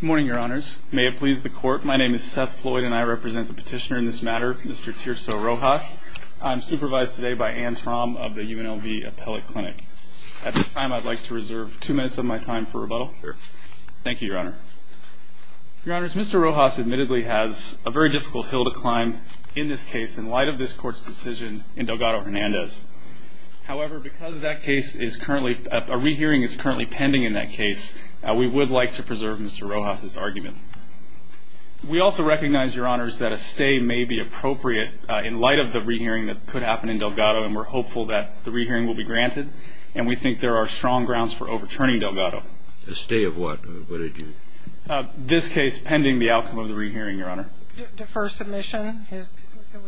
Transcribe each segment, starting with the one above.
Good morning, Your Honors. May it please the Court, my name is Seth Floyd and I represent the petitioner in this matter, Mr. Tirso Rojas. I'm supervised today by Anne Traum of the UNLV Appellate Clinic. At this time, I'd like to reserve two minutes of my time for rebuttal. Thank you, Your Honor. Your Honors, Mr. Rojas admittedly has a very difficult hill to climb in this case in light of this Court's decision in Delgado-Hernandez. However, because a rehearing is currently pending in that case, we would like to preserve Mr. Rojas' argument. We also recognize, Your Honors, that a stay may be appropriate in light of the rehearing that could happen in Delgado, and we're hopeful that the rehearing will be granted, and we think there are strong grounds for overturning Delgado. A stay of what? This case pending the outcome of the rehearing, Your Honor. Do I defer submission?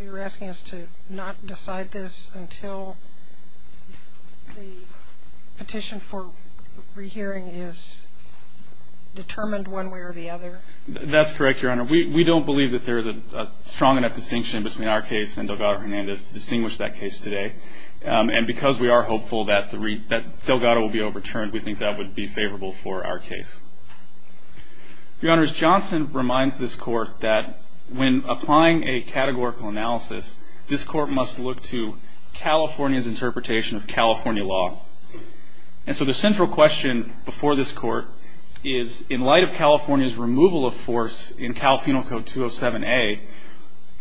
You're asking us to not decide this until the petition for rehearing is determined one way or the other? That's correct, Your Honor. We don't believe that there is a strong enough distinction between our case and Delgado-Hernandez to distinguish that case today, and because we are hopeful that Delgado will be overturned, we think that would be favorable for our case. Your Honors, Johnson reminds this Court that when applying a categorical analysis, this Court must look to California's interpretation of California law. And so the central question before this Court is, in light of California's removal of force in Cal Penal Code 207A,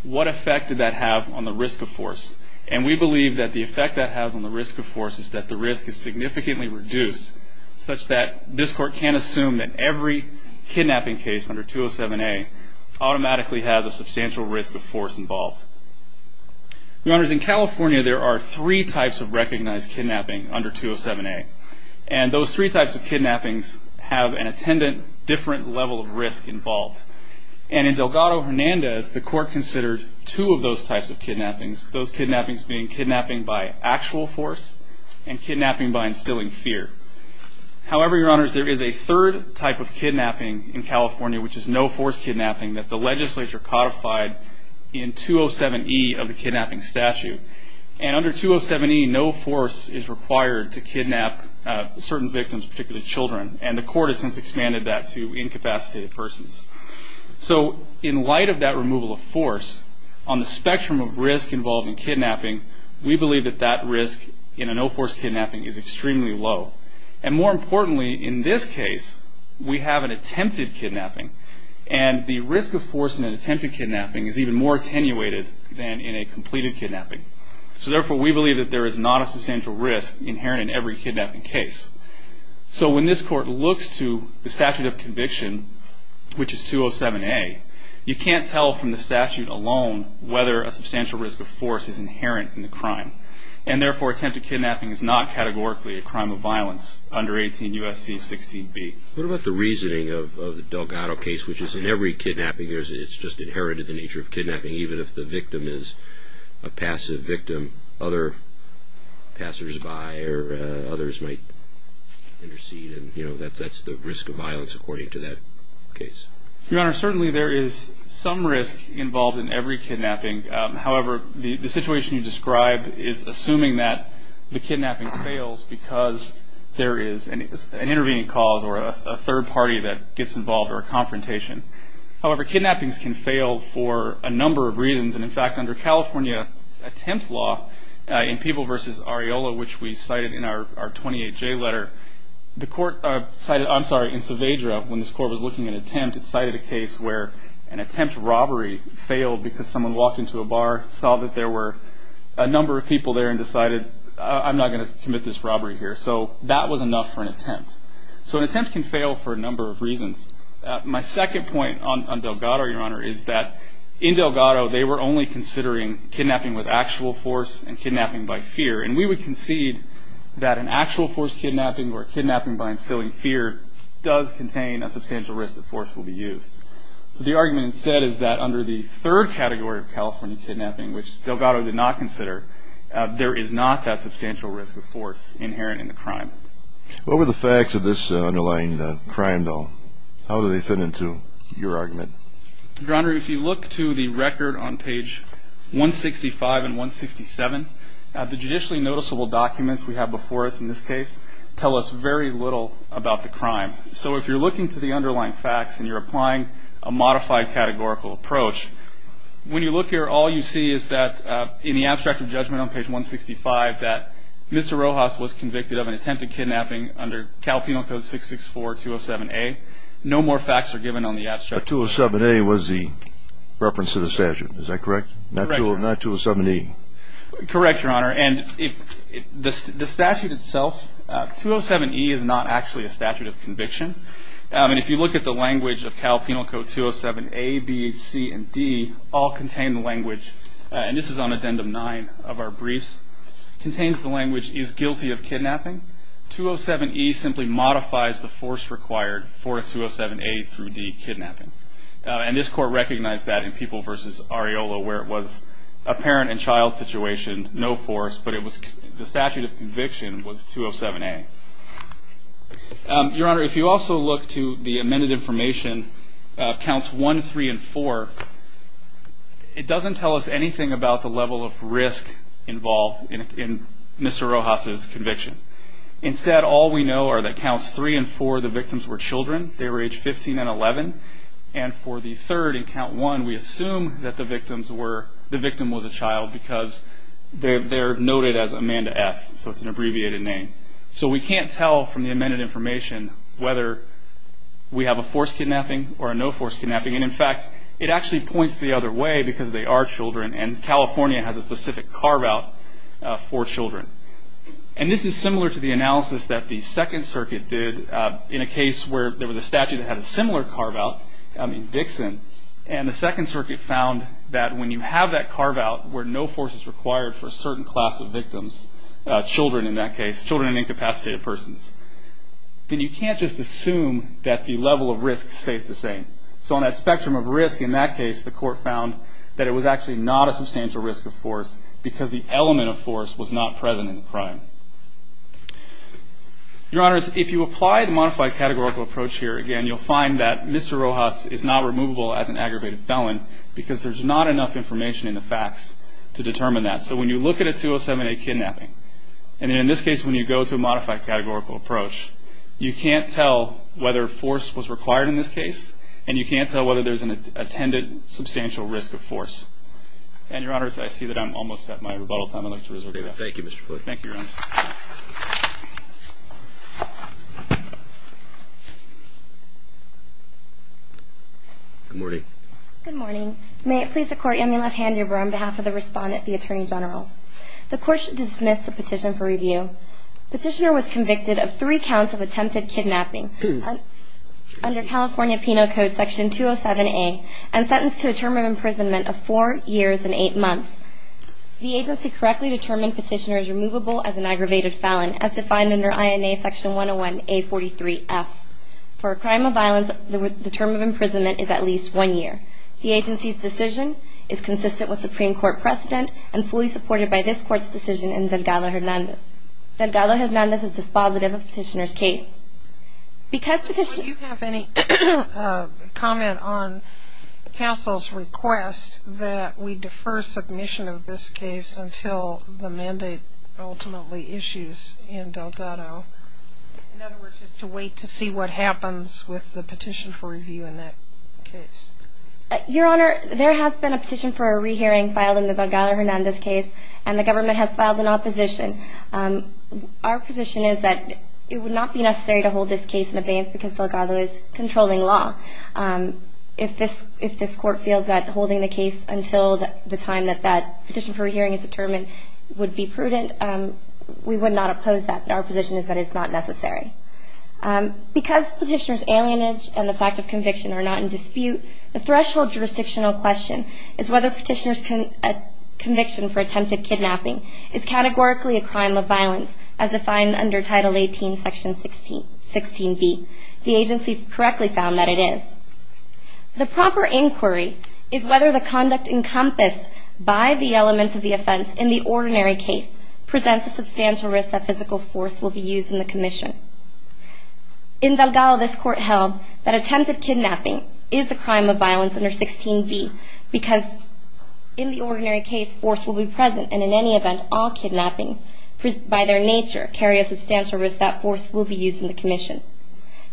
what effect did that have on the risk of force? And we believe that the effect that has on the risk of force is that the risk is significantly reduced, such that this Court can assume that every kidnapping case under 207A automatically has a substantial risk of force involved. Your Honors, in California, there are three types of recognized kidnapping under 207A, and those three types of kidnappings have an attendant different level of risk involved. And in Delgado-Hernandez, the Court considered two of those types of kidnappings, those kidnappings being kidnapping by actual force and kidnapping by instilling fear. However, Your Honors, there is a third type of kidnapping in California, which is no-force kidnapping, that the legislature codified in 207E of the kidnapping statute. And under 207E, no force is required to kidnap certain victims, particularly children, and the Court has since expanded that to incapacitated persons. So in light of that removal of force, on the spectrum of risk involved in kidnapping, we believe that that risk in a no-force kidnapping is extremely low. And more importantly, in this case, we have an attempted kidnapping, and the risk of force in an attempted kidnapping is even more attenuated than in a completed kidnapping. So therefore, we believe that there is not a substantial risk inherent in every kidnapping case. So when this Court looks to the statute of conviction, which is 207A, you can't tell from the statute alone whether a substantial risk of force is inherent in the crime. And therefore, attempted kidnapping is not categorically a crime of violence under 18 U.S.C. 16b. What about the reasoning of the Delgado case, which is in every kidnapping, it's just inherited the nature of kidnapping, even if the victim is a passive victim, other passersby or others might intercede, and that's the risk of violence according to that case. Your Honor, certainly there is some risk involved in every kidnapping. However, the situation you describe is assuming that the kidnapping fails because there is an intervening cause or a third party that gets involved or a confrontation. However, kidnappings can fail for a number of reasons. And in fact, under California attempt law, in People v. Areola, which we cited in our 28J letter, the Court cited, I'm sorry, in Saavedra, when this Court was looking at attempt, it cited a case where an attempt robbery failed because someone walked into a bar, saw that there were a number of people there, and decided, I'm not going to commit this robbery here. So that was enough for an attempt. So an attempt can fail for a number of reasons. My second point on Delgado, Your Honor, is that in Delgado they were only considering kidnapping with actual force and kidnapping by fear, and we would concede that an actual force kidnapping or a kidnapping by instilling fear does contain a substantial risk that force will be used. So the argument instead is that under the third category of California kidnapping, which Delgado did not consider, there is not that substantial risk of force inherent in the crime. What were the facts of this underlying crime, though? How do they fit into your argument? Your Honor, if you look to the record on page 165 and 167, the judicially noticeable documents we have before us in this case tell us very little about the crime. So if you're looking to the underlying facts and you're applying a modified categorical approach, when you look here, all you see is that in the abstract of judgment on page 165 that Mr. Rojas was convicted of an attempted kidnapping under Cal Penal Code 664-207-A. No more facts are given on the abstract. But 207-A was the reference to the statute. Is that correct? Not 207-E. Correct, Your Honor. And the statute itself, 207-E is not actually a statute of conviction. And if you look at the language of Cal Penal Code 207-A, B, C, and D, all contain the language, and this is on Addendum 9 of our briefs, contains the language, is guilty of kidnapping. 207-E simply modifies the force required for 207-A through D kidnapping. And this Court recognized that in People v. Areola where it was a parent and child situation, no force, but the statute of conviction was 207-A. Your Honor, if you also look to the amended information, Counts 1, 3, and 4, it doesn't tell us anything about the level of risk involved in Mr. Rojas' conviction. Instead, all we know are that Counts 3 and 4, the victims were children. They were age 15 and 11. And for the third, in Count 1, we assume that the victim was a child because they're noted as Amanda F. So it's an abbreviated name. So we can't tell from the amended information whether we have a forced kidnapping or a no-force kidnapping. And in fact, it actually points the other way because they are children and California has a specific carve-out for children. And this is similar to the analysis that the Second Circuit did in a case where there was a statute that had a similar carve-out in Dixon, and the Second Circuit found that when you have that carve-out where no force is required for a certain class of victims, children in that case, there's a spectrum of risk. In that case, the court found that it was actually not a substantial risk of force because the element of force was not present in the crime. Your Honors, if you apply the modified categorical approach here, again, you'll find that Mr. Rojas is not removable as an aggravated felon because there's not enough information in the facts to determine that. So when you look at a 207A kidnapping, and in this case when you go to a modified categorical approach, you can't tell whether force was required in this case, and you can't tell whether there's an attended substantial risk of force. And Your Honors, I see that I'm almost at my rebuttal time. I'd like to resort to that. Thank you, Mr. Plouffe. Thank you, Your Honors. Good morning. Good morning. May it please the Court, I'm going to let hand you over on behalf of the Respondent, the Attorney General. The Court should dismiss the petition for review. Petitioner was convicted of three counts of attempted kidnapping under California Penal Code Section 207A and sentenced to a term of imprisonment of four years and eight months. The agency correctly determined Petitioner is removable as an aggravated felon as defined under INA Section 101A43F. For a crime of violence, the term of imprisonment is at least one year. The agency's decision is consistent with Supreme Court precedent and fully supported by this Court's decision in Delgado-Hernandez's dispositive of Petitioner's case. Do you have any comment on counsel's request that we defer submission of this case until the mandate ultimately issues in Delgado? In other words, just to wait to see what happens with the petition for review in that case? Your Honor, there has been a petition for a rehearing filed in the Delgado-Hernandez case, and the government has filed an opposition. Our position is that it would not be necessary to hold this case in abeyance because Delgado is controlling law. If this Court feels that holding the case until the time that that petition for a hearing is determined would be prudent, we would not oppose that. Our position is that it's not necessary. Because Petitioner's alienage and the fact of conviction are not in dispute, the threshold jurisdictional question is whether Petitioner's conviction for attempted kidnapping is categorically a crime of violence as defined under Title 18, Section 16b. The agency correctly found that it is. The proper inquiry is whether the conduct encompassed by the elements of the offense in the ordinary case presents a substantial risk that physical force will be used in the commission. In Delgado, this Court held that attempted kidnapping is a crime of violence under 16b because in the ordinary case, force will be present, and in any event, all kidnappings by their nature carry a substantial risk that force will be used in the commission.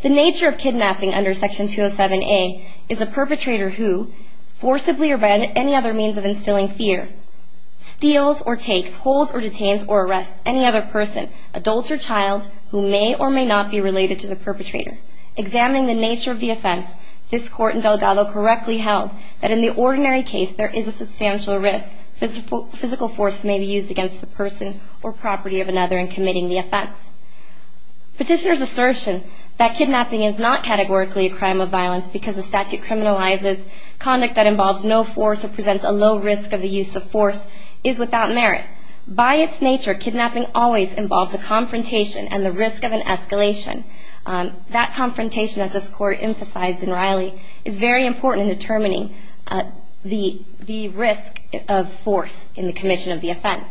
The nature of kidnapping under Section 207a is a perpetrator who forcibly or by any other means of instilling fear steals or takes, holds or detains or arrests any other person, adult or child, who may or may not be related to the perpetrator. Examining the nature of the offense, this Court in Delgado correctly held that in the ordinary case, there is a substantial risk that physical force may be used against the person or property of another in committing the offense. Petitioner's assertion that kidnapping is not categorically a crime of violence because the statute criminalizes conduct that involves no force or presents a low risk of the use of force is without merit. By its nature, kidnapping always involves a confrontation and the risk of an escalation. That confrontation, as this Court emphasized in Riley, is very important in determining the risk of force in the commission of the offense.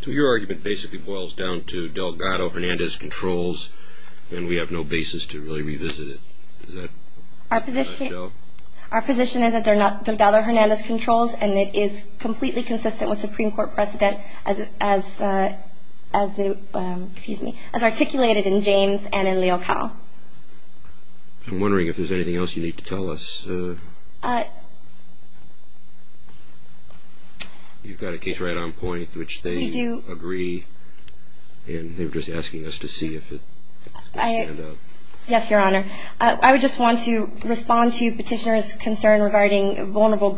So your argument basically boils down to Delgado-Hernandez controls and we have no basis to really revisit it. Our position is that they're not Delgado-Hernandez controls and it is completely consistent with Supreme Court precedent as articulated in James and in Leocal. I'm wondering if there's anything else you need to tell us. You've got a case right on point, which they agree and they're just asking us to see if it stands out. Yes, Your Honor. I would just want to respond to Petitioner's concern regarding vulnerable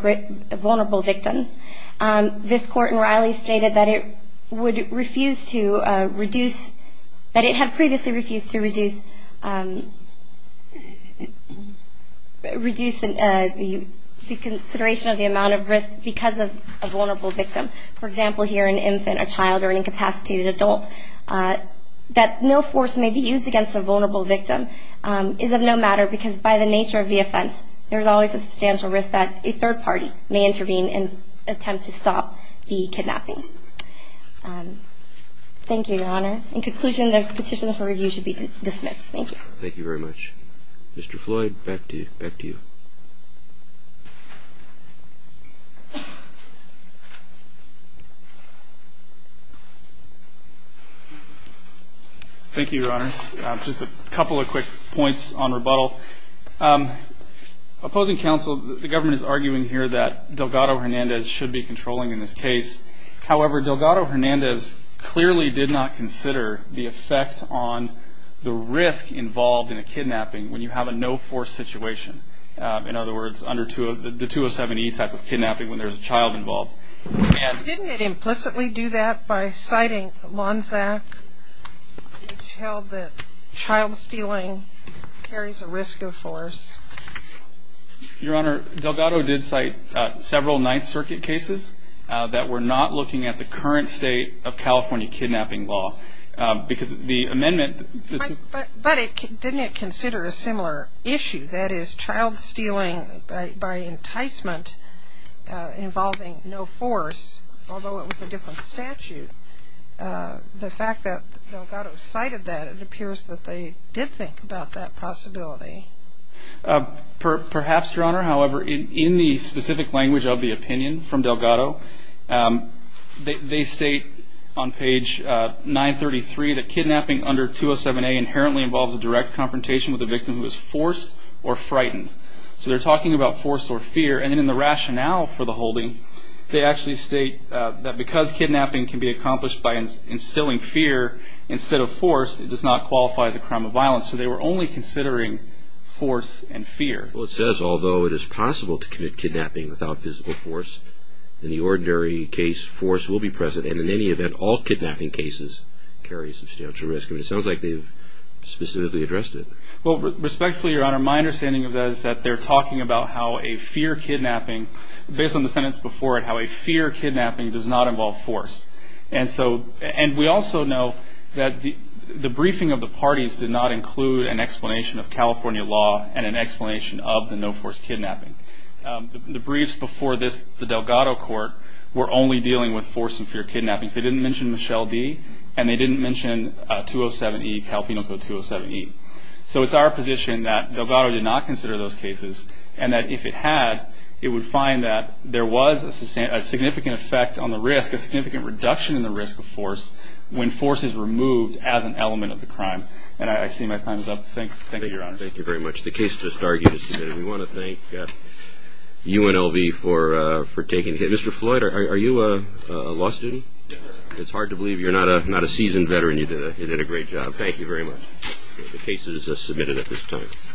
victims. This Court in Riley stated that it would refuse to reduce, that it had previously refused to reduce, reduce the consideration of the amount of risk because of a vulnerable victim. For example, here an infant, a child or an incapacitated adult, that no force may be used against a vulnerable victim. It is of no matter because by the nature of the offense, there's always a substantial risk that a third party may intervene and attempt to stop the kidnapping. Thank you, Your Honor. In conclusion, the petition for review should be dismissed. Thank you. Thank you very much. Thank you, Your Honors. Just a couple of quick points on rebuttal. Opposing counsel, the government is arguing here that Delgado-Hernandez should be controlling in this case. It's a valid point. I think it's important to remember that there is a risk of force involved in a kidnapping when you have a no force situation. In other words, the 207E type of kidnapping when there's a child involved. Didn't it implicitly do that by citing Lanzac, which held that child stealing carries a risk of force? Your Honor, Delgado did cite several Ninth Circuit cases that were not looking at the current state of California kidnapping law. But didn't it consider a similar issue? That is, child stealing by enticement involving no force, although it was a different statute. The fact that Delgado cited that, it appears that they did think about that possibility. Perhaps, Your Honor, however, in the specific language of the opinion from Delgado, they state on page 933 that kidnapping under 207A inherently involves a direct confrontation with a victim who is forced or frightened. So they're talking about force or fear. And in the rationale for the holding, they actually state that because kidnapping can be accomplished by instilling fear instead of force, it does not qualify as a crime of violence. So they were only considering force and fear. Well, it says, although it is possible to commit kidnapping without physical force, in the ordinary case, force will be present. And in any event, all kidnapping cases carry substantial risk. But it sounds like they've specifically addressed it. Well, respectfully, Your Honor, my understanding of that is that they're talking about how a fear kidnapping, based on the sentence before it, how a fear kidnapping does not involve force. And we also know that the briefing of the parties did not include an explanation of California law and an explanation of the no-force kidnapping. The briefs before this, the Delgado court, were only dealing with force and fear kidnappings. They didn't mention Michelle D., and they didn't mention 207E, California Code 207E. So it's our position that Delgado did not consider those cases and that if it had, it would find that there was a significant effect on the risk, a significant reduction in the risk of force when force is removed as an element of the crime. And I see my time is up. Thank you, Your Honor. Thank you very much. The case just argued is submitted. We want to thank UNLV for taking the case. Mr. Floyd, are you a law student? Yes, sir.